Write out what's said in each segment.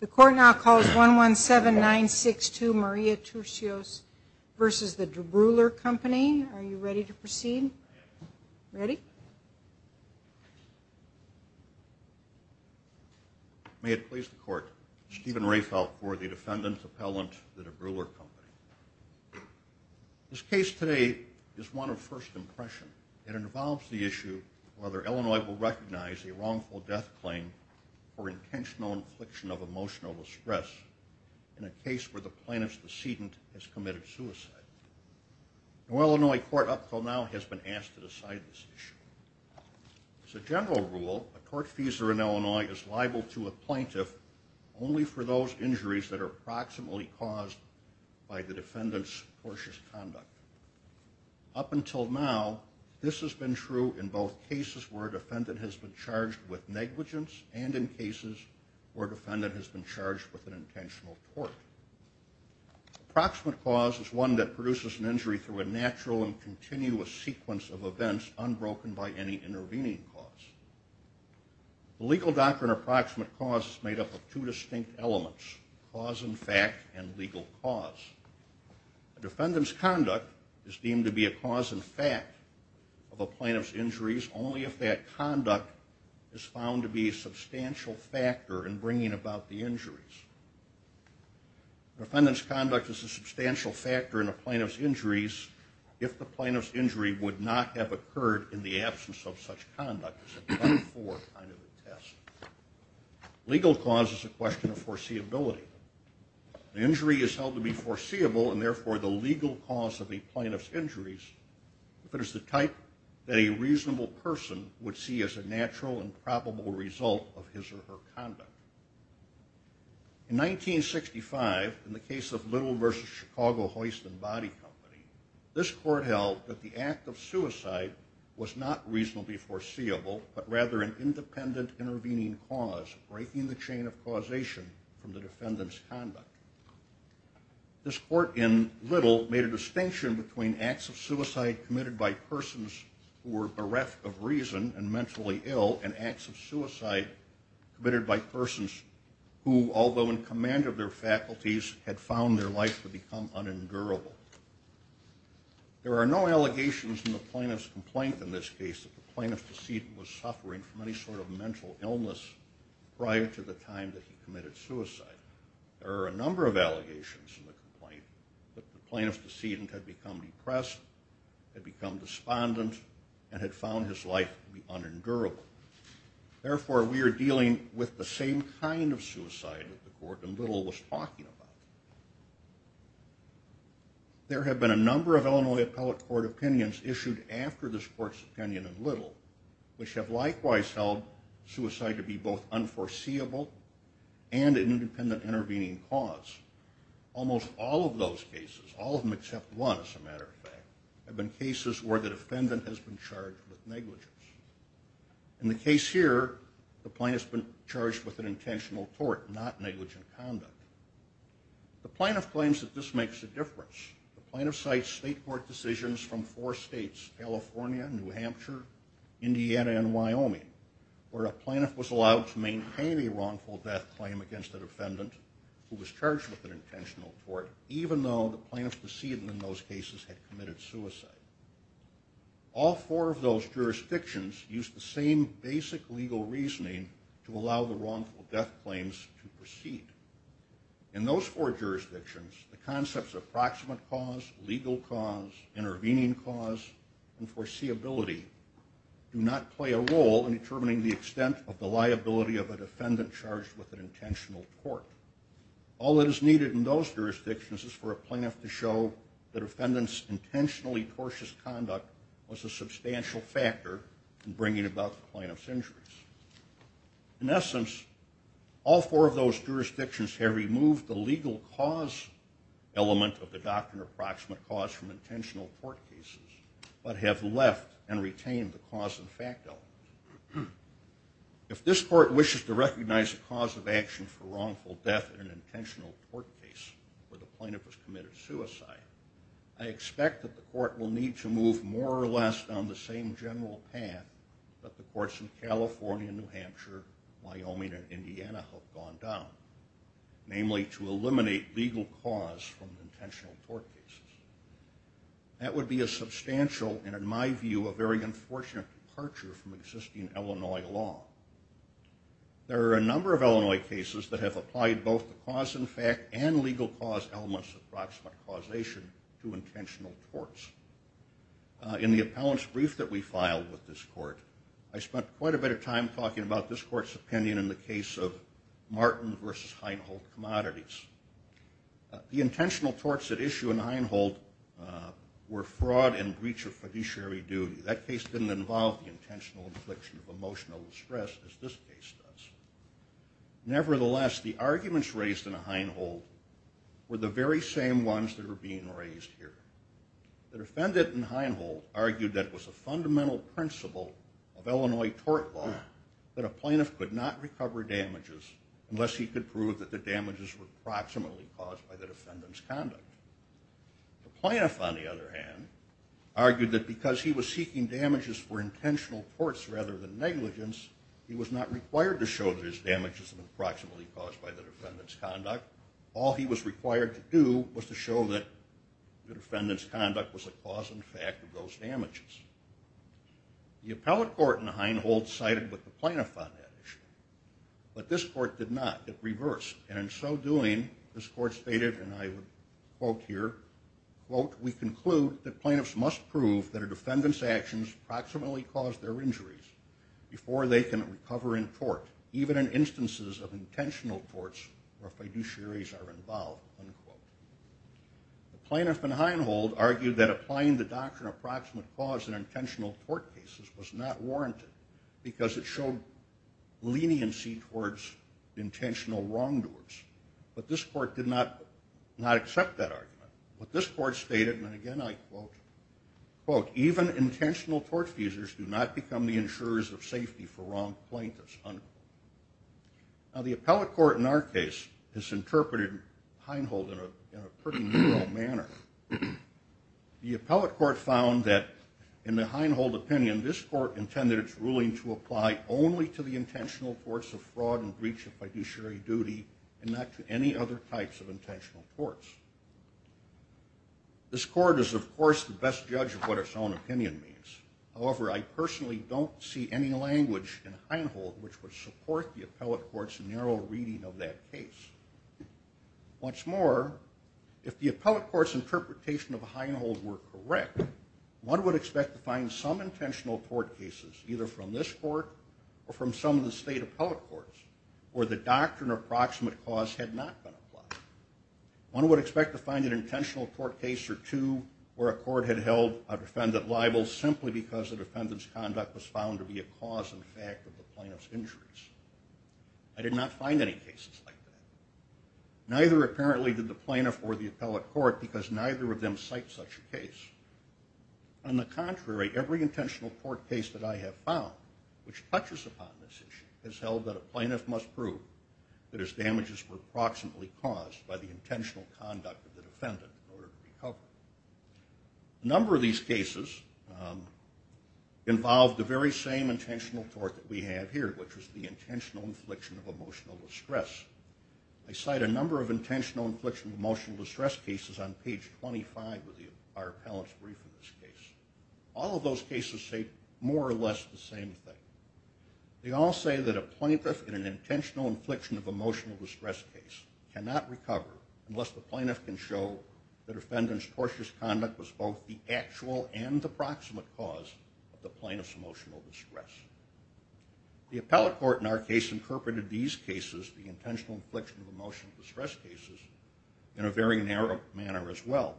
The court now calls 117-962 Maria Turcios v. DeBruler Company. Are you ready to proceed? Ready? May it please the court, Stephen Rehfeldt for the defendant's appellant, the DeBruler Company. This case today is one of first impression. It involves the issue of whether Illinois will recognize a wrongful death claim or intentional infliction of emotional distress in a case where the plaintiff's decedent has committed suicide. No Illinois court up until now has been asked to decide this issue. As a general rule, a court feeser in Illinois is liable to a plaintiff only for those injuries that are approximately caused by the defendant's cautious conduct. Up until now, this has been true in both cases where a defendant has been charged with negligence and in cases where a defendant has been charged with an intentional tort. Approximate cause is one that produces an injury through a natural and continuous sequence of events unbroken by any intervening cause. The legal doctrine of approximate cause is made up of two distinct elements, cause and fact and legal cause. A defendant's conduct is deemed to be a cause and fact of a plaintiff's injuries only if that conduct is found to be a substantial factor in bringing about the injuries. A defendant's conduct is a substantial factor in a plaintiff's injuries if the plaintiff's injury would not have occurred in the absence of such conduct. Legal cause is a question of foreseeability. An injury is held to be foreseeable and therefore the legal cause of a plaintiff's injuries if it is the type that a reasonable person would see as a natural and probable result of his or her conduct. In 1965, in the case of Little v. Chicago Hoist and Body Company, this court held that the act of suicide was not reasonably foreseeable but rather an independent intervening cause breaking the chain of causation from the defendant's conduct. This court in Little made a distinction between acts of suicide committed by persons who were bereft of reason and mentally ill and acts of suicide committed by persons who, although in command of their faculties, had found their life to become unendurable. There are no allegations in the plaintiff's complaint in this case that the plaintiff's decedent was suffering from any sort of mental illness prior to the time that he committed suicide. There are a number of allegations in the complaint that the plaintiff's decedent had become depressed, had become despondent, and had found his life to be unendurable. Therefore, we are dealing with the same kind of suicide that the court in Little was talking about. There have been a number of Illinois Appellate Court opinions issued after this court's opinion in Little which have likewise held suicide to be both unforeseeable and an independent intervening cause. Almost all of those cases, all of them except one as a matter of fact, have been cases where the defendant has been charged with negligence. In the case here, the plaintiff's been charged with an intentional tort, not negligent conduct. The plaintiff claims that this makes a difference. The plaintiff cites state court decisions from four states, California, New Hampshire, Indiana, and Wyoming, where a plaintiff was allowed to maintain a wrongful death claim against a defendant who was charged with an intentional tort, even though the plaintiff's decedent in those cases had committed suicide. All four of those jurisdictions used the same basic legal reasoning to allow the wrongful death claims to proceed. In those four jurisdictions, the concepts of proximate cause, legal cause, intervening cause, and foreseeability do not play a role in determining the extent of the liability of a defendant charged with an intentional tort. All that is needed in those jurisdictions is for a plaintiff to show that a defendant's intentionally tortious conduct was a substantial factor in bringing about the plaintiff's injuries. In essence, all four of those jurisdictions have removed the legal cause element of the doctrine of proximate cause from intentional tort cases, but have left and retained the cause and fact element. If this court wishes to recognize the cause of action for wrongful death in an intentional tort case where the plaintiff has committed suicide, I expect that the court will need to move more or less down the same general path that the courts in California, New Hampshire, Wyoming, and Indiana have gone down, namely to eliminate legal cause from intentional tort cases. That would be a substantial and, in my view, a very unfortunate departure from existing Illinois law. There are a number of Illinois cases that have applied both the cause and fact and legal cause elements of proximate causation to intentional torts. In the appellant's brief that we filed with this court, I spent quite a bit of time talking about this court's opinion in the case of Martin v. Heinhold Commodities. The intentional torts at issue in Heinhold were fraud and breach of fiduciary duty. That case didn't involve the intentional infliction of emotional stress as this case does. Nevertheless, the arguments raised in Heinhold were the very same ones that are being raised here. The defendant in Heinhold argued that it was a fundamental principle of Illinois tort law that a plaintiff could not recover damages unless he could prove that the damages were proximately caused by the defendant's conduct. The plaintiff, on the other hand, argued that because he was seeking damages for intentional torts rather than negligence, he was not required to show that his damages were proximately caused by the defendant's conduct. All he was required to do was to show that the defendant's conduct was a cause and fact of those damages. The appellate court in Heinhold sided with the plaintiff on that issue, but this court did not. It reversed. And in so doing, this court stated, and I would quote here, quote, we conclude that plaintiffs must prove that a defendant's actions proximately caused their injuries before they can recover in tort, even in instances of intentional torts where fiduciaries are involved, unquote. The plaintiff in Heinhold argued that applying the doctrine of proximate cause in intentional tort cases was not warranted because it showed leniency towards intentional wrongdoers. But this court did not accept that argument. But this court stated, and again I quote, quote, even intentional tort feeders do not become the insurers of safety for wrong plaintiffs, unquote. Now the appellate court in our case has interpreted Heinhold in a pretty narrow manner. The appellate court found that in the Heinhold opinion, this court intended its ruling to apply only to the intentional torts of fraud and breach of fiduciary duty and not to any other types of intentional torts. This court is, of course, the best judge of what its own opinion means. However, I personally don't see any language in Heinhold which would support the appellate court's narrow reading of that case. What's more, if the appellate court's interpretation of Heinhold were correct, one would expect to find some intentional tort cases, either from this court or from some of the state appellate courts, where the doctrine of proximate cause had not been applied. One would expect to find an intentional tort case or two where a court had held a defendant liable simply because the defendant's conduct was found to be a cause in fact of the plaintiff's injuries. I did not find any cases like that. Neither, apparently, did the plaintiff or the appellate court because neither of them cite such a case. On the contrary, every intentional tort case that I have found, which touches upon this issue, has held that a plaintiff must prove that his damages were proximately caused by the intentional conduct of the defendant in order to recover. A number of these cases involve the very same intentional tort that we have here, which is the intentional infliction of emotional distress. I cite a number of intentional infliction of emotional distress cases on page 25 of our appellate's brief in this case. All of those cases say more or less the same thing. They all say that a plaintiff in an intentional infliction of emotional distress case cannot recover unless the plaintiff can show that the defendant's tortious conduct was both the actual and the proximate cause of the plaintiff's emotional distress. The appellate court, in our case, interpreted these cases, the intentional infliction of emotional distress cases, in a very narrow manner as well.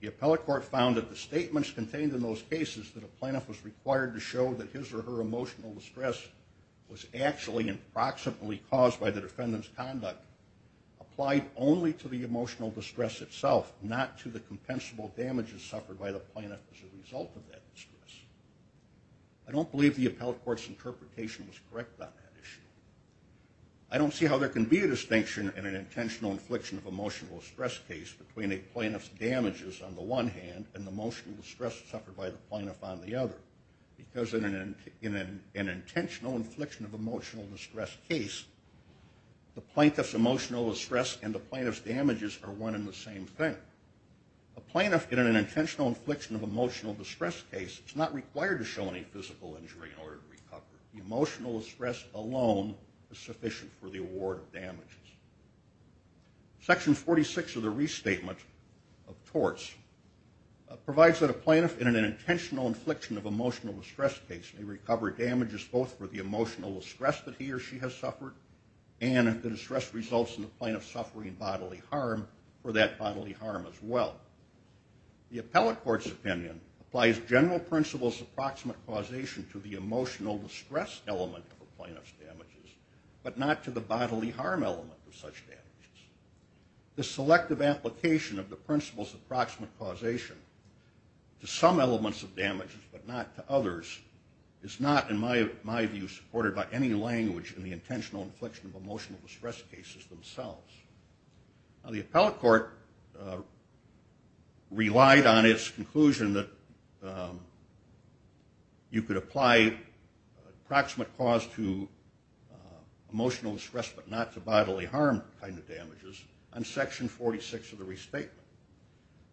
The appellate court found that the statements contained in those cases that a plaintiff was required to show that his or her emotional distress was actually and proximately caused by the defendant's conduct applied only to the emotional distress itself, not to the compensable damages suffered by the plaintiff as a result of that distress. I don't believe the appellate court's interpretation was correct on that issue. I don't see how there can be a distinction in an intentional infliction of emotional distress case between a plaintiff's damages on the one hand and the emotional distress suffered by the plaintiff on the other. Because in an intentional infliction of emotional distress case, the plaintiff's emotional distress and the plaintiff's damages are one and the same thing. A plaintiff in an intentional infliction of emotional distress case is not required to show any physical injury in order to recover. The emotional distress alone is sufficient for the award of damages. Section 46 of the Restatement of Torts provides that a plaintiff in an intentional infliction of emotional distress case may recover damages both for the emotional distress that he or she has suffered and if the distress results in the plaintiff suffering bodily harm, for that bodily harm as well. The appellate court's opinion applies general principles of proximate causation to the emotional distress element of a plaintiff's damages, but not to the bodily harm element of such damages. The selective application of the principles of proximate causation to some elements of damages but not to others is not in my view supported by any language in the intentional infliction of emotional distress cases themselves. Now the appellate court relied on its conclusion that you could apply proximate cause to emotional distress but not to bodily harm kind of damages on Section 46 of the Restatement.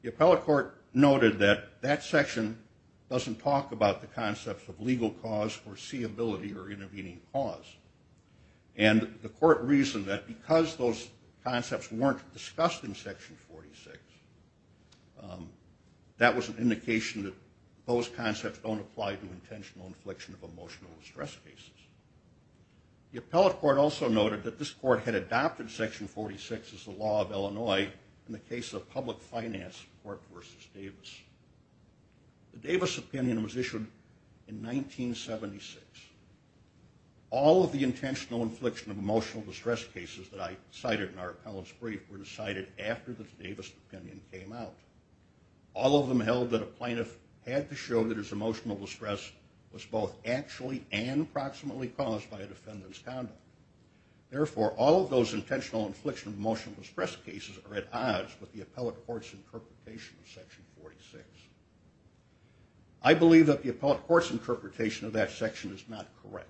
The appellate court noted that that section doesn't talk about the concepts of legal cause, foreseeability, or intervening cause. And the court reasoned that because those concepts weren't discussed in Section 46, that was an indication that those concepts don't apply to intentional infliction of emotional distress cases. The appellate court also noted that this court had adopted Section 46 as the law of Illinois in the case of public finance court versus Davis. The Davis opinion was issued in 1976. All of the intentional infliction of emotional distress cases that I cited in our appellant's brief were decided after the Davis opinion came out. All of them held that a plaintiff had to show that his emotional distress was both actually and proximately caused by a defendant's conduct. Therefore, all of those intentional infliction of emotional distress cases are at odds with the appellate court's interpretation of Section 46. I believe that the appellate court's interpretation of that section is not correct.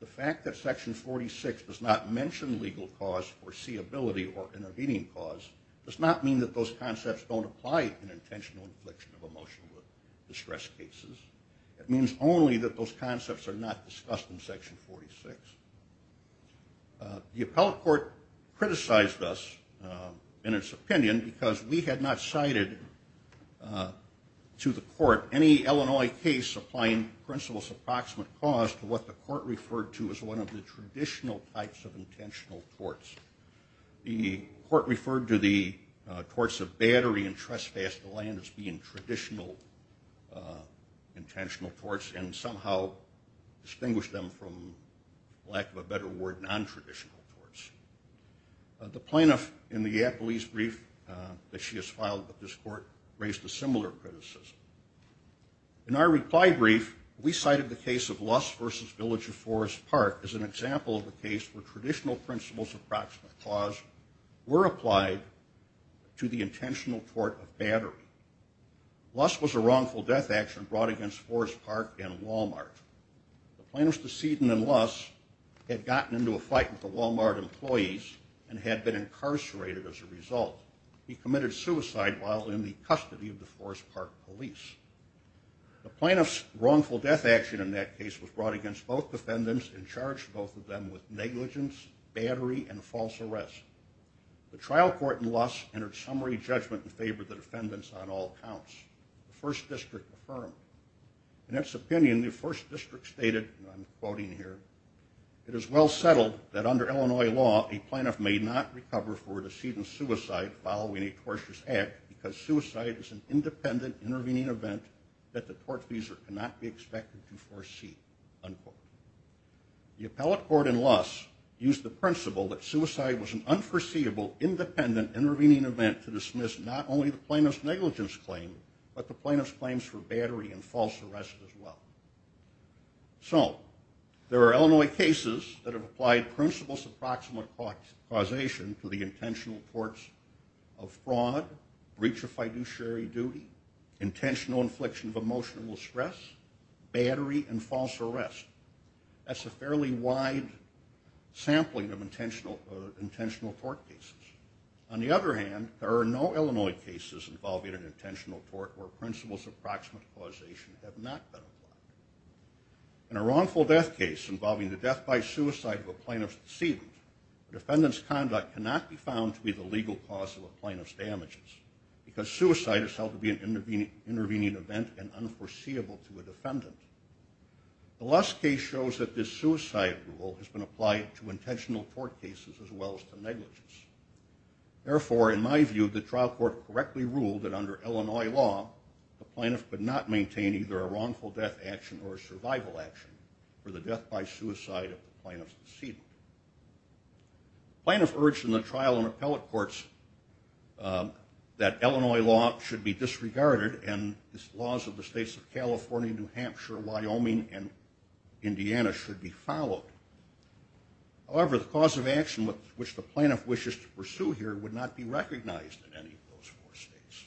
The fact that Section 46 does not mention legal cause, foreseeability, or intervening cause does not mean that those concepts don't apply to intentional infliction of emotional distress cases. It means only that those concepts are not discussed in Section 46. The appellate court criticized us in its opinion because we had not cited to the court any Illinois case that was supplying principal's approximate cause to what the court referred to as one of the traditional types of intentional torts. The court referred to the torts of battery and trespass to land as being traditional intentional torts and somehow distinguished them from, for lack of a better word, nontraditional torts. The plaintiff in the appellee's brief that she has filed with this court raised a similar criticism. In our reply brief, we cited the case of Luss versus Village of Forest Park as an example of a case where traditional principal's approximate cause were applied to the intentional tort of battery. Luss was a wrongful death action brought against Forest Park and Wal-Mart. The plaintiff's decedent in Luss had gotten into a fight with the Wal-Mart employees and had been incarcerated as a result. He committed suicide while in the custody of the Forest Park police. The plaintiff's wrongful death action in that case was brought against both defendants and charged both of them with negligence, battery, and false arrest. The trial court in Luss entered summary judgment in favor of the defendants on all counts. The first district affirmed. In its opinion, the first district stated, and I'm quoting here, it is well settled that under Illinois law, a plaintiff may not recover for a decedent's suicide following a tortious act because suicide is an independent intervening event that the tortfeasor cannot be expected to foresee. Unquote. The appellate court in Luss used the principle that suicide was an unforeseeable independent intervening event to dismiss not only the plaintiff's negligence claim, but the plaintiff's claims for battery and false arrest as well. So, there are Illinois cases that have applied principles of proximate causation to the intentional torts of fraud, breach of fiduciary duty, intentional infliction of emotional stress, battery, and false arrest. That's a fairly wide sampling of intentional tort cases. On the other hand, there are no Illinois cases involving an intentional tort where principles of proximate causation have not been applied. In a wrongful death case involving the death by suicide of a plaintiff's decedent, the defendant's conduct cannot be found to be the legal cause of a plaintiff's damages because suicide is thought to be an intervening event and unforeseeable to a defendant. The Luss case shows that this suicide rule has been applied to intentional tort cases as well as to negligence. Therefore, in my view, the trial court correctly ruled that under Illinois law, the plaintiff could not maintain either a wrongful death action or a survival action for the death by suicide of the plaintiff's decedent. The plaintiff urged in the trial and appellate courts that Illinois law should be disregarded and the laws of the states of California, New Hampshire, Wyoming, and Indiana should be followed. However, the cause of action which the plaintiff wishes to pursue here would not be recognized in any of those four states.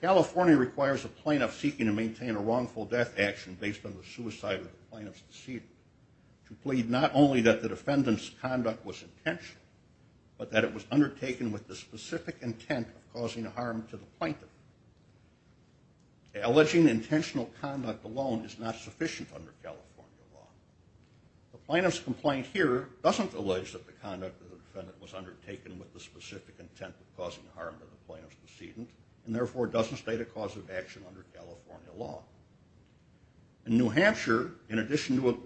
California requires a plaintiff seeking to maintain a wrongful death action based on the suicide of the plaintiff's decedent to plead not only that the defendant's conduct was intentional, but that it was undertaken with the specific intent of causing harm to the plaintiff. Alleging intentional conduct alone is not sufficient under California law. The plaintiff's complaint here doesn't allege that the conduct of the defendant was undertaken with the specific intent of causing harm to the plaintiff's decedent, and therefore doesn't state a cause of action under California law. In New Hampshire, in addition to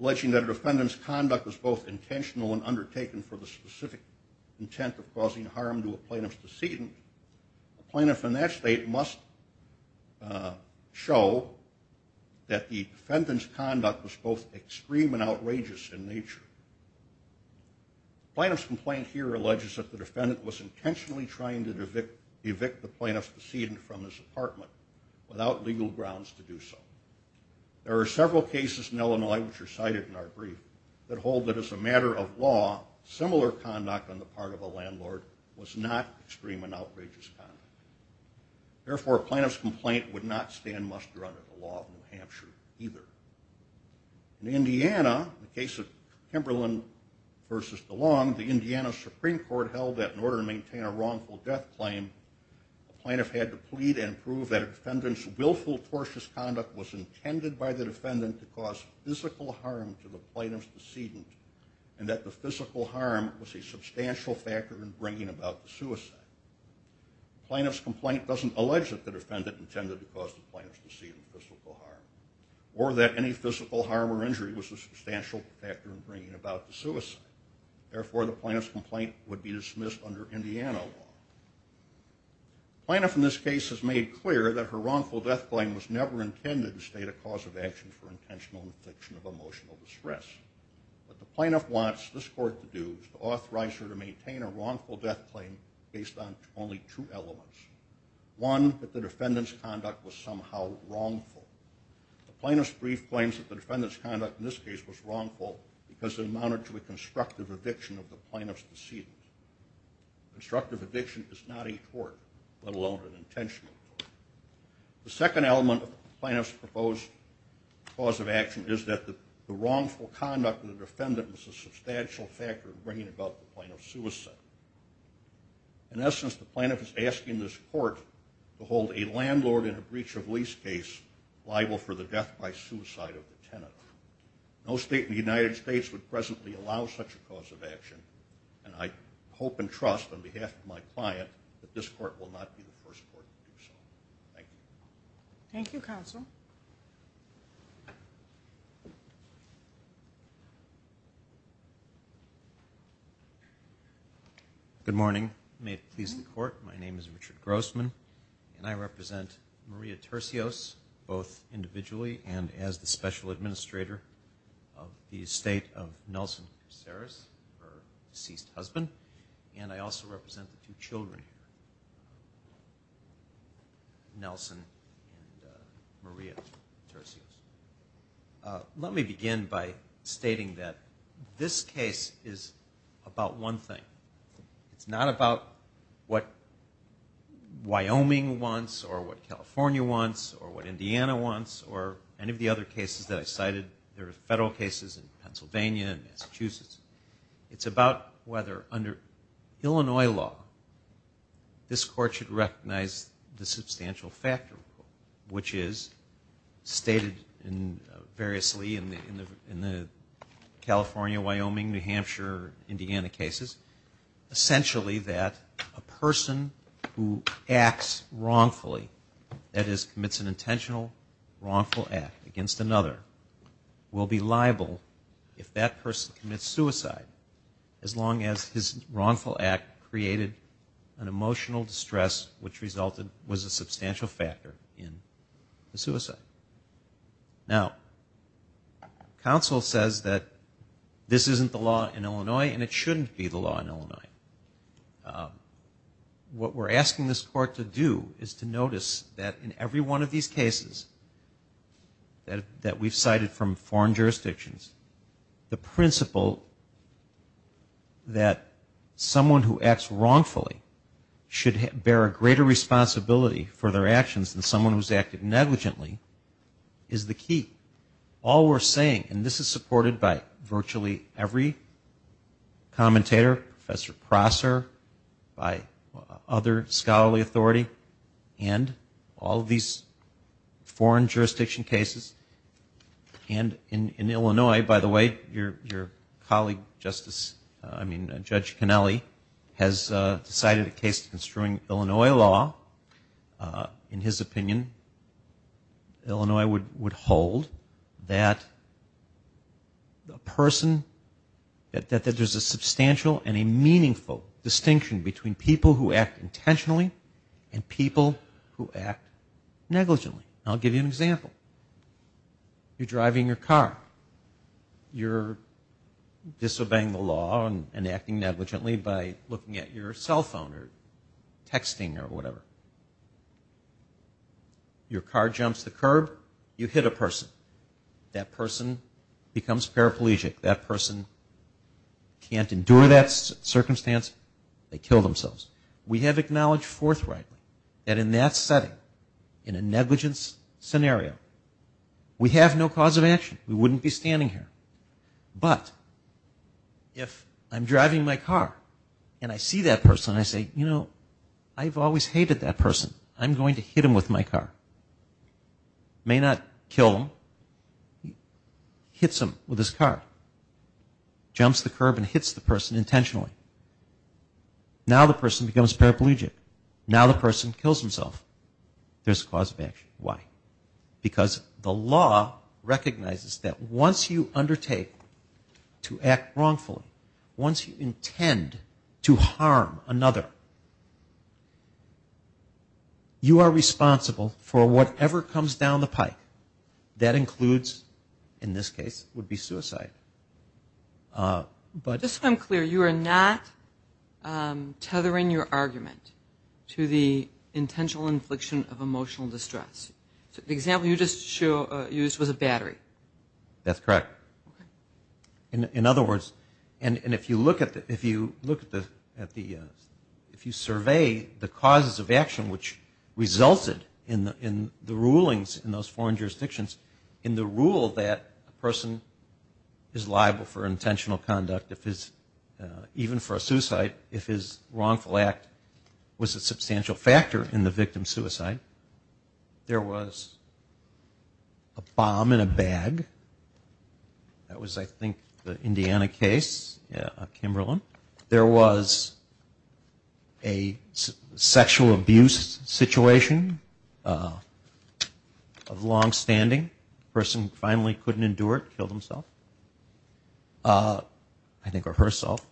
alleging that a defendant's conduct was both intentional and undertaken for the specific intent of causing harm to a plaintiff's decedent, a plaintiff in that state must show that the defendant's conduct was both extreme and outrageous in nature. The plaintiff's complaint here alleges that the defendant was intentionally trying to evict the plaintiff's decedent from his apartment without legal grounds to do so. There are several cases in Illinois, which are cited in our brief, that hold that as a matter of law, similar conduct on the part of a landlord was not extreme and outrageous conduct. Therefore, a plaintiff's complaint would not stand muster under the law of New Hampshire either. In Indiana, the case of Kimberlin v. DeLong, the Indiana Supreme Court held that in order to maintain a wrongful death claim, a plaintiff had to plead and prove that a defendant's willful, tortuous conduct was intended by the defendant to cause physical harm to the plaintiff's decedent, and that the physical harm was a substantial factor in bringing about the suicide. The plaintiff's complaint doesn't allege that the defendant intended to cause the plaintiff's decedent physical harm, but that any physical harm or injury was a substantial factor in bringing about the suicide. Therefore, the plaintiff's complaint would be dismissed under Indiana law. The plaintiff in this case has made clear that her wrongful death claim was never intended to state a cause of action for intentional infliction of emotional distress. What the plaintiff wants this court to do is to authorize her to maintain a wrongful death claim based on only two elements. One, that the defendant's conduct was somehow wrongful. The plaintiff's brief claims that the defendant's conduct in this case was wrongful because it amounted to a constructive addiction of the plaintiff's decedent. Constructive addiction is not a tort, let alone an intentional tort. The second element of the plaintiff's proposed cause of action is that the wrongful conduct of the defendant was a substantial factor in bringing about the plaintiff's suicide. In essence, the plaintiff is asking this court to hold a landlord in a breach of lease case liable for the death by suicide of the tenant. No state in the United States would presently allow such a cause of action, and I hope and trust on behalf of my client that this court will not be the first court to do so. Thank you. Thank you, counsel. Good morning. May it please the court, my name is Richard Grossman, and I represent Maria Tercios, both individually and as the special administrator of the estate of Nelson Caceres, her deceased husband, and I also represent the two children here, Nelson and Maria Tercios. Let me begin by stating that this case is about one thing. It's not about what Wyoming wants, or what California wants, or what Indiana wants, or any of the other cases that I cited. There are federal cases in Pennsylvania and Massachusetts. It's about whether under Illinois law, this court should recognize the substantial factor, which is stated variously in the California, Wyoming, New Hampshire, Indiana cases, essentially that a person who acts wrongfully, that is, commits an intentional wrongful act against another, will be liable if that person commits suicide, as long as his wrongful act created an emotional distress, which resulted, was a substantial factor in the suicide. Now, counsel says that this isn't the law in Illinois, and it shouldn't be the law in Illinois. What we're asking this court to do is to notice that in every one of these cases that we've cited from foreign jurisdictions, the principle that someone who acts wrongfully should bear a greater responsibility for their actions than someone who's acted negligently is the key. All we're saying, and this is supported by virtually every commentator, Professor Prosser, by other scholarly authority, and all of these foreign jurisdiction cases. And in Illinois, by the way, your colleague, Justice, I mean, has decided a case to constrain Illinois law. In his opinion, Illinois would hold that a person, that there's a substantial and a meaningful distinction between people who act intentionally and people who act negligently. I'll give you an example. You're driving your car. You're disobeying the law and acting at your cell phone or texting or whatever. Your car jumps the curb. You hit a person. That person becomes paraplegic. That person can't endure that circumstance. They kill themselves. We have acknowledged forthrightly that in that setting, in a negligence scenario, we have no cause of action. We wouldn't be standing here. But if I'm driving my car, and I see that person, I say, you know, I've always hated that person. I'm going to hit him with my car. May not kill him. Hits him with his car. Jumps the curb and hits the person intentionally. Now the person becomes paraplegic. Now the person kills himself. There's a cause of action. Why? Because the law recognizes that once you undertake to act wrongfully, once you intend to harm another, you are responsible for whatever comes down the pike. That includes, in this case, would be suicide. Just so I'm clear, you are not tethering your argument to the intentional infliction of emotional distress. The example you just used was a battery. That's correct. In other words, and if you look at the, if you survey the causes of action which resulted in the rulings in those foreign jurisdictions, in the rule that a person is liable for intentional conduct, even for a suicide, if his wrongful act was a substantial factor in the victim's suicide, there was a bomb in a bag. That was, I think, the Indiana case, Kimberlin. There was a sexual abuse situation of longstanding. The person finally couldn't endure it, killed himself. I think, or herself.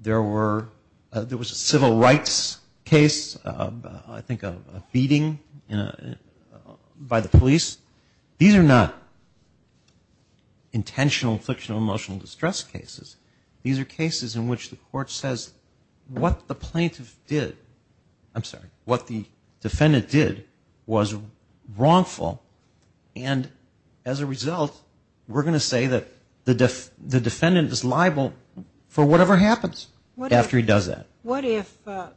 There were, there was a civil rights case, I think a beating by the police. These are not intentional infliction of emotional distress cases. These are cases in which the court says what the plaintiff did, I'm sorry, what the defendant did was wrongful, and as a result, we're going to say that the defendant is liable for whatever happens after he does that. What if,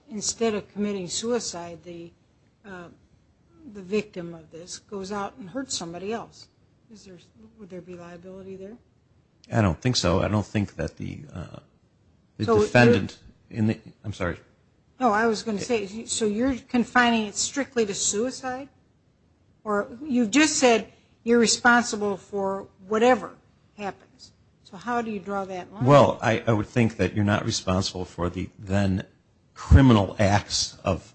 instead of committing suicide, the victim of this goes out and hurts somebody else? Would there be liability there? I don't think so. I don't think that the defendant, I'm sorry. Oh, I was going to say, so you're confining it strictly to suicide? Or you just said you're responsible for whatever happens. So how do you draw that line? Well, I would think that you're not responsible for the then criminal acts of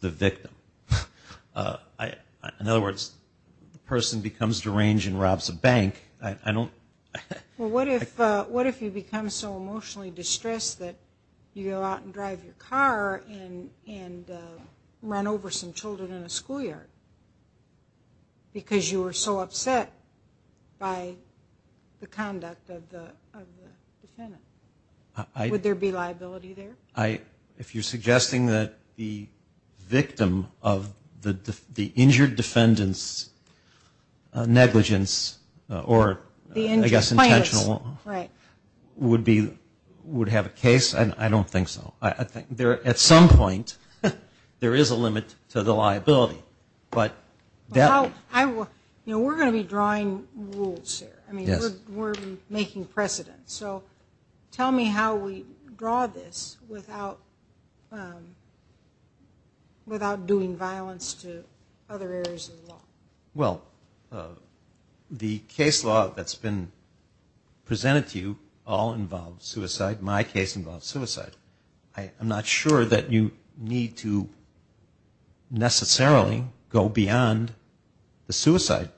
the victim. In other words, the person becomes deranged and robs a bank. Well, what if you become so emotionally distressed that you go out and drive your car and run over some children in a schoolyard, because you were so upset by the conduct of the defendant? Would there be liability there? If you're suggesting that the victim of the injured defendant's negligence, or I guess intentional, would have a case, I don't think so. At some point, there is a limit to the liability. We're going to be drawing rules here. We're making precedence. Tell me how we draw this without doing violence to other areas of the law. The case law that's been presented to you all involves suicide. My case involves suicide. I'm not sure that you need to necessarily go beyond the suicide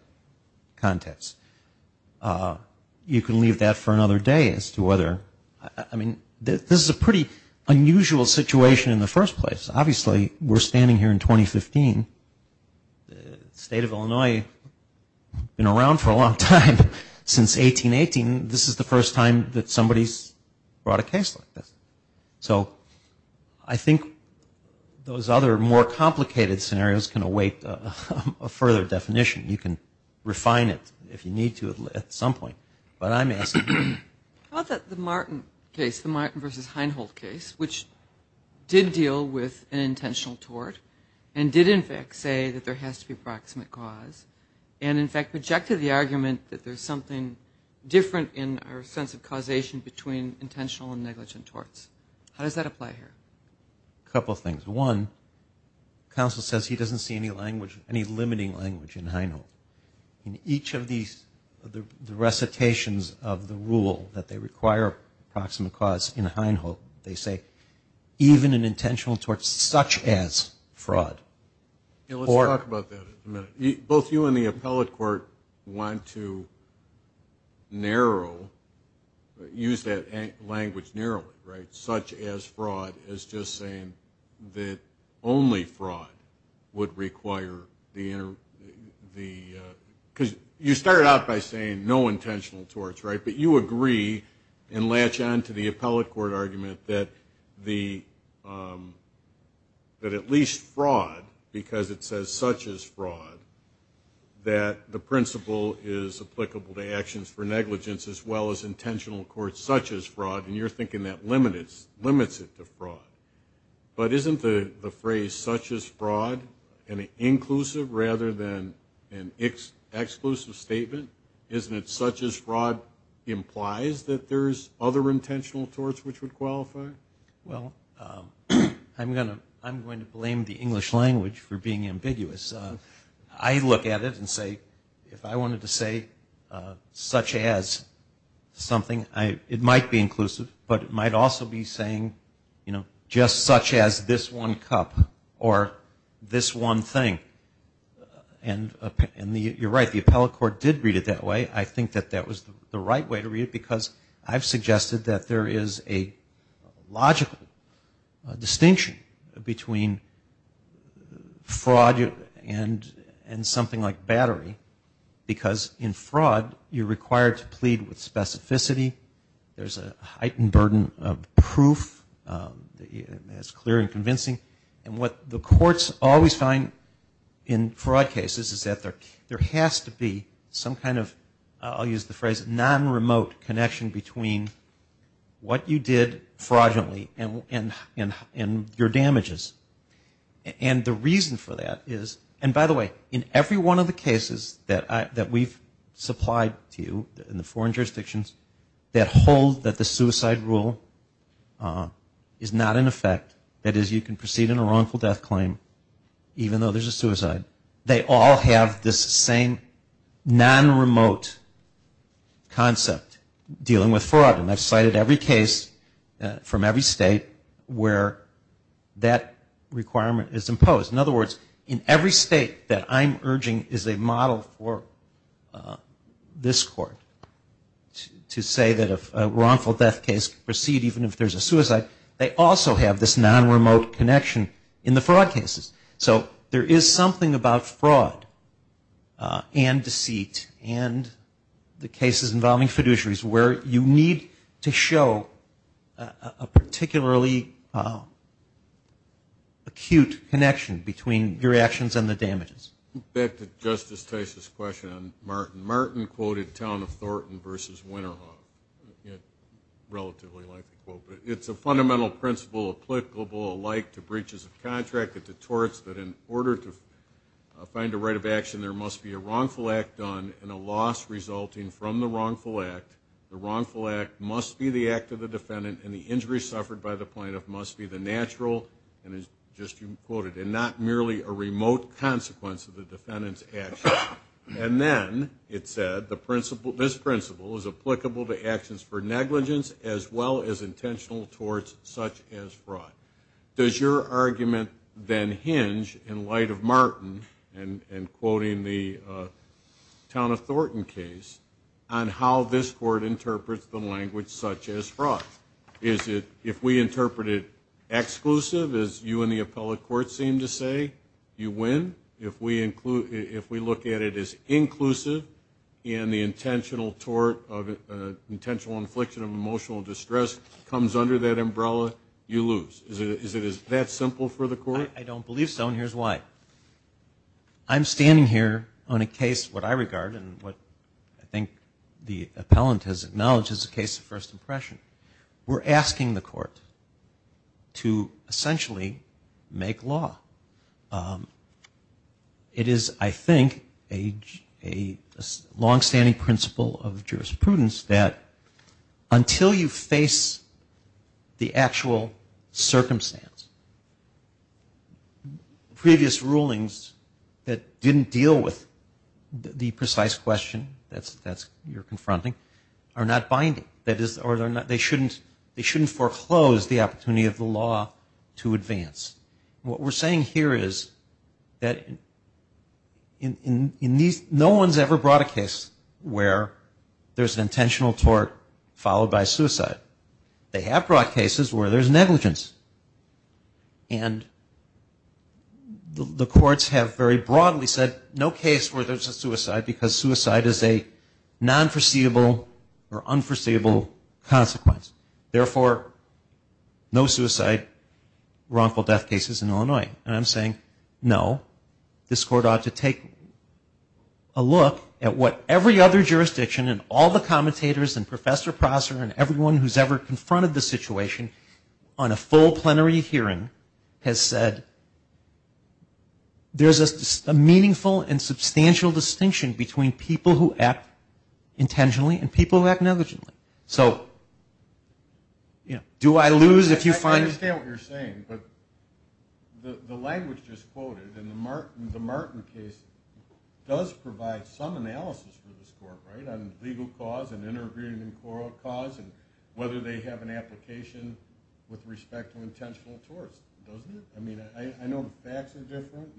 context. You can leave that for another day as to whether, I mean, this is a pretty unusual situation in the first place. Obviously, we're standing here in 2015. The state of Illinois has been around for a long time. Since 1818, this is the first time that somebody's brought a case like this. So I think those other more complicated scenarios can await a further definition. You can refine it if you need to at some point. But I'm asking. How about the Martin case, the Martin v. Heinhold case, which did deal with an intentional tort, and did in fact say that there has to be a proximate cause, and in fact projected the argument that there's something different in our sense of causation between intentional and negligent torts? How does that apply here? A couple things. One, counsel says he doesn't see any limiting language in Heinhold. In each of the recitations of the rule that they require a proximate cause in Heinhold, they say even an intentional tort such as fraud. Let's talk about that in a minute. Both you and the appellate court want to narrow, use that language narrowly, right, such as fraud as just saying that only fraud would require the because you started out by saying no intentional torts, right, but you agree and latch on to the appellate court argument that the, that at least fraud, because it says such as fraud, that the principle is applicable to actions for negligence as well as intentional courts, such as fraud, and you're thinking that limits it to fraud. But isn't the phrase such as fraud an inclusive rather than an exclusive statement? Isn't it such as fraud implies that there's other intentional torts which would qualify? Well, I'm going to blame the English language for being ambiguous. I look at it and say if I wanted to say such as something, it might be inclusive, but it might also be saying, you know, just such as this one cup or this one thing. And you're right, the appellate court did read it that way. I think that that was the right way to read it because I've suggested that there is a logical distinction between fraud and something like battery, because in fraud you're required to plead with specificity, there's a heightened burden of proof that's clear and convincing, and what the courts always find in fraud cases is that there has to be some kind of, I'll use the phrase non-remote connection between what you did fraudulently and your damages. And the reason for that is, and by the way, in every one of the cases that we've supplied to you in the foreign jurisdictions that hold that the suicide rule is not in effect, that is you can proceed in a wrongful death claim even though there's a suicide, they all have this same non-remote concept dealing with fraud. And I've cited every case from every state where that requirement is imposed. In other words, in every state that I'm urging is a model for this court to say that a wrongful death case can proceed even if there's a suicide, they also have this non-remote connection in the fraud cases. So there is something about fraud and deceit and the cases involving fiduciaries where you need to show a particularly acute connection between your actions and the damages. Back to Justice Tice's question on Martin. Martin quoted Town of Thornton versus Winterhawk. It's a fundamental principle applicable alike to breaches of contract that detorts that in order to find a right of action there must be a wrongful act done and a loss resulting from the wrongful act. The wrongful act must be the act of the defendant and the injury suffered by the plaintiff must be the natural and as just you quoted, and not merely a remote consequence of the defendant's action. And then it said this principle is applicable to actions for negligence as well as intentional torts such as fraud. Does your argument then hinge in light of Martin and quoting the Town of Thornton case on how this court interprets the language such as fraud? Is it if we interpret it exclusive as you and the appellate court seem to say, you win? If we look at it as inclusive and the intentional tort of intentional infliction of emotional distress comes under that umbrella, you lose? Is it that simple for the court? I don't believe so and here's why. I'm standing here on a case what I regard and what I think the appellant has acknowledged as a case of first impression. We're asking the court to essentially make law. It is, I think, a longstanding principle of jurisprudence that until you face the actual circumstance, previous rulings that didn't deal with the precise question that you're confronting are not binding. They shouldn't foreclose the opportunity of the law to advance. What we're saying here is that no one's ever brought a case where there's an intentional tort followed by a suicide and the courts have very broadly said no case where there's a suicide because suicide is a non foreseeable or unforeseeable consequence. Therefore, no suicide, wrongful death cases in Illinois. And I'm saying, no, this court ought to take a look at what every other jurisdiction and all the commentators and Professor Prosser and everyone who's ever confronted the situation on a full plenary hearing. Has said there's a meaningful and substantial distinction between people who act intentionally and people who act negligently. So, you know, do I lose if you find... I understand what you're saying, but the language just quoted in the Martin case does provide some analysis for this court, right, on legal cause and inter-agreement cause and whether they have an application with respect to the case. I mean, I know the facts are different,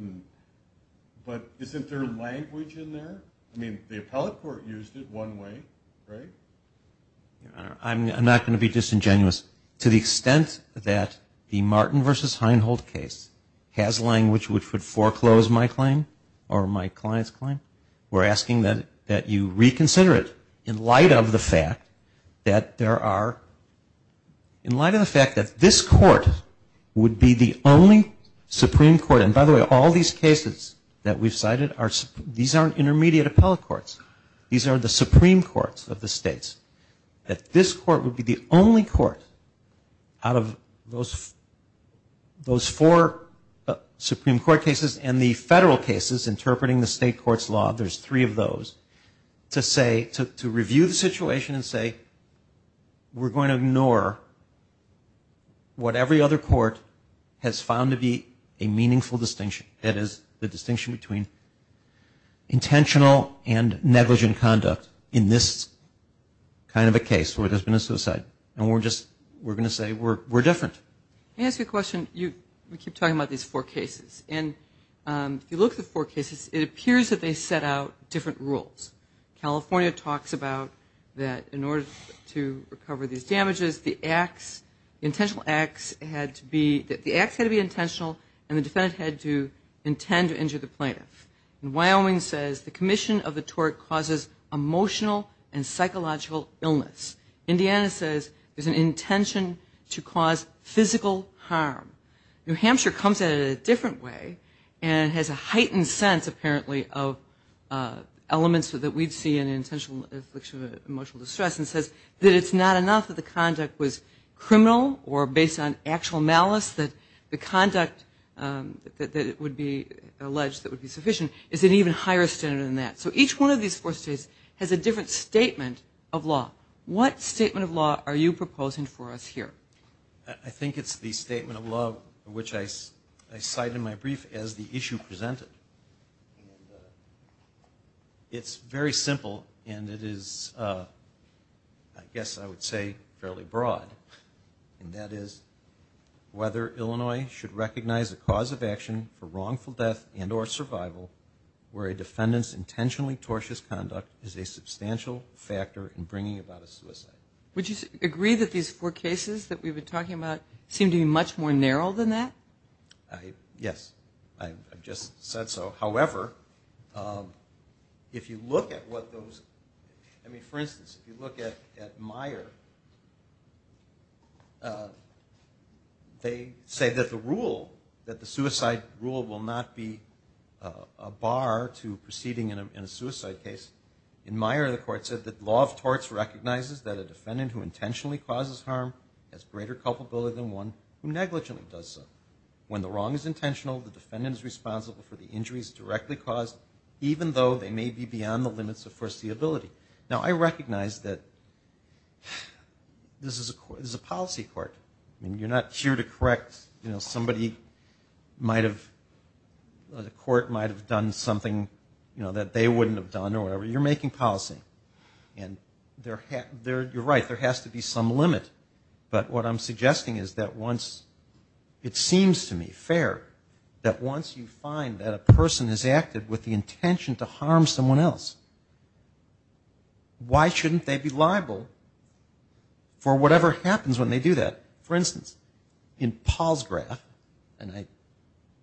but isn't there language in there? I mean, the appellate court used it one way, right? I'm not going to be disingenuous. To the extent that the Martin versus Heinhold case has language which would foreclose my claim or my client's claim, we're asking that you reconsider it in light of the fact that there are, in light of the fact that this court would be the only Supreme Court, and by the way, all these cases that we've cited, these aren't intermediate appellate courts. These are the Supreme Courts of the states. That this court would be the only court out of those four Supreme Court cases and the federal cases interpreting the state court's law, there's three of those, to say, to review the situation and say, we're going to ignore the Supreme Court. What every other court has found to be a meaningful distinction, that is the distinction between intentional and negligent conduct in this kind of a case where there's been a suicide, and we're going to say, we're different. Can I ask you a question? We keep talking about these four cases, and if you look at the four cases, it appears that they set out different rules. California talks about that in order to recover these damages, the acts, the intentional acts had to be, the acts had to be intentional, and the defendant had to intend to injure the plaintiff. And Wyoming says the commission of the tort causes emotional and psychological illness. Indiana says there's an intention to cause physical harm. New Hampshire comes at it in a different way and has a heightened sense, apparently, of elements that we'd see in an intentional affliction of emotional distress and says that it's not that the conduct was criminal or based on actual malice, that the conduct that would be alleged that would be sufficient is an even higher standard than that. So each one of these four states has a different statement of law. What statement of law are you proposing for us here? I think it's the statement of law which I cite in my brief as the issue presented. It's very simple, and it is, I would say, fairly broad. And that is whether Illinois should recognize a cause of action for wrongful death and or survival where a defendant's intentionally tortious conduct is a substantial factor in bringing about a suicide. Would you agree that these four cases that we've been talking about seem to be much more narrow than that? Yes. I've just said so. However, if you look at what those, I mean, for instance, if you look at Myers, they say that the rule, that the suicide rule will not be a bar to proceeding in a suicide case. In Myers, the court said that law of torts recognizes that a defendant who intentionally causes harm has greater culpability than one who negligently does so. When the wrong is intentional, the defendant is responsible for the injuries directly caused, even though they may be beyond the limits of foreseeability. Now, I recognize that, you know, I'm not a lawyer, but this is a policy court. I mean, you're not here to correct, you know, somebody might have, the court might have done something, you know, that they wouldn't have done or whatever. You're making policy. And you're right, there has to be some limit. But what I'm suggesting is that once, it seems to me fair, that once you find that a person is active with the intention to harm someone else, why shouldn't they be liable? Why shouldn't they be liable for whatever happens when they do that? For instance, in Paul's graph, and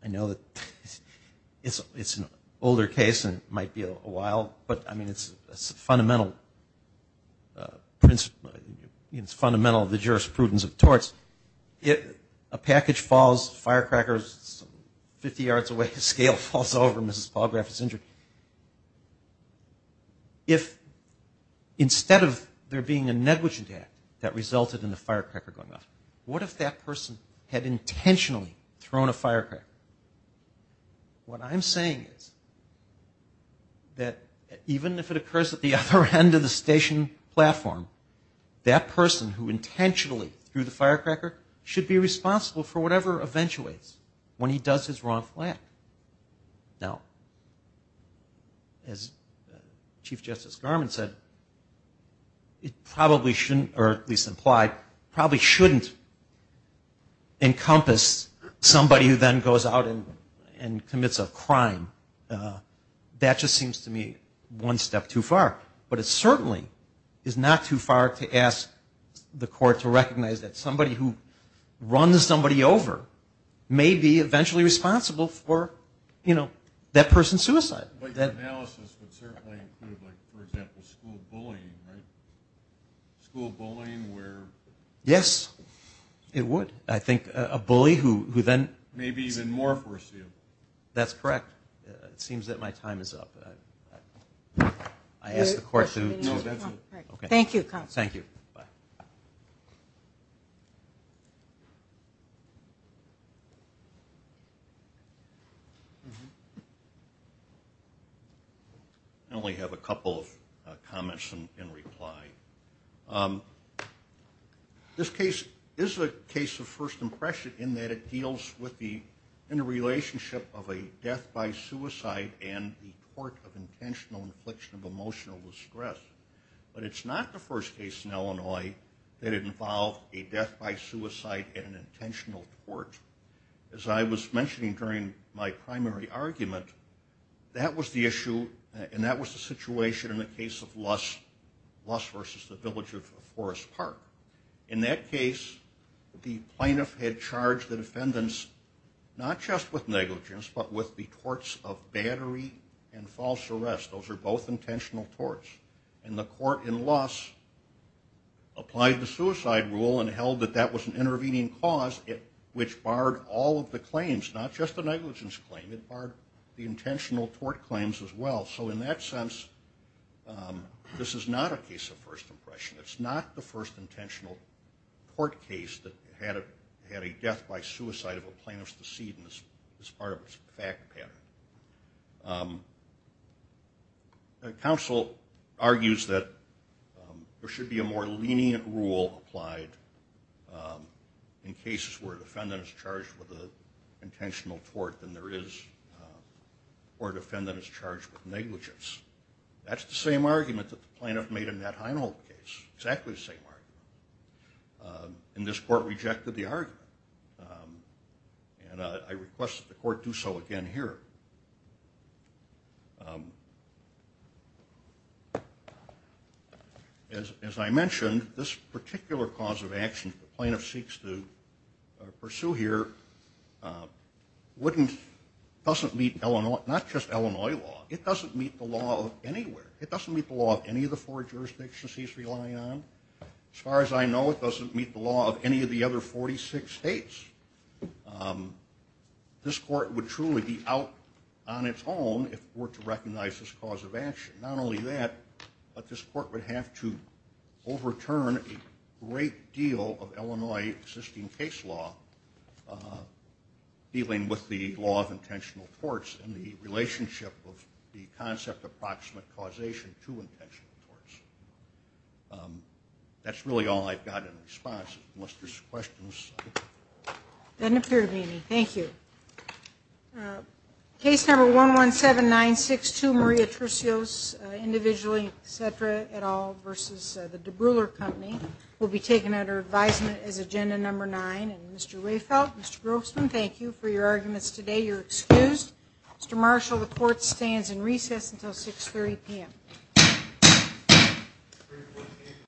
I know that it's an older case and might be a while, but I mean, it's fundamental, it's fundamental of the jurisprudence of torts. A package falls, firecrackers, 50 yards away, a scale falls over, Mrs. Paul's graph is injured. If instead of there being a negligent act that resulted in the firecracker going off, what if that person had intentionally thrown a firecracker? What I'm saying is that even if it occurs at the other end of the station platform, that person who intentionally threw the firecracker should be responsible for whatever eventuates when he does his wrongful act. Now, as Chief Justice Garment said, it probably shouldn't, or at least implied, probably shouldn't encompass somebody who then goes out and commits a crime. That just seems to me one step too far. But it certainly is not too far to ask the court to recognize that somebody who runs somebody over may be eventually responsible for, you know, that person's suicide. But that analysis would certainly include, like, for example, school bullying, right? School bullying where Yes, it would. I think a bully who then May be even more forced to That's correct. It seems that my time is up. I ask the court to No, that's it. Thank you, counsel. Thank you. Bye. I only have a couple of comments in reply. This case is a case of first impression in that it deals with the, in the relationship of a death by suicide and the tort of intentional infliction of emotional distress. But it's not the first case in Illinois that involved a death by suicide and an intentional tort. As I was mentioning during my primary argument, that was the issue and that was the situation in the case of Luss versus the village of Forest Park. In that case, the plaintiff had charged the defendants not just with negligence but with the torts of battery and false arrest. Those are both intentional torts. And the court in Luss applied the suicide rule and held that that was an intervening cause which barred all of the claims, not just the negligence claim. It barred the intentional tort claims as well. So in that sense, this is not a case of first impression. It's not the first intentional tort case that had a death by suicide of a plaintiff's decedent as part of its fact pattern. Counsel argues that there should be a more lenient rule applied. In cases where a defendant is charged with an intentional tort than there is where a defendant is charged with negligence. That's the same argument that the plaintiff made in that Heinhold case. Exactly the same argument. And this court rejected the argument. And I request that the court do so again here. As I mentioned, this particular cause of action that we're going to pursue here doesn't meet not just Illinois law, it doesn't meet the law of anywhere. It doesn't meet the law of any of the four jurisdictions he's relying on. As far as I know, it doesn't meet the law of any of the other 46 states. This court would truly be out on its own if it were to recognize this cause of action. Not only that, but this court would be out on its own if it were to recognize that there is a great deal of Illinois existing case law dealing with the law of intentional torts and the relationship of the concept of proximate causation to intentional torts. That's really all I've got in response. Unless there's questions. Case number 117962 Maria Trusios, individually, Cedra, et al. versus the Debrouillard Company will be taken as a case. Case number 117962 Maria Trusios.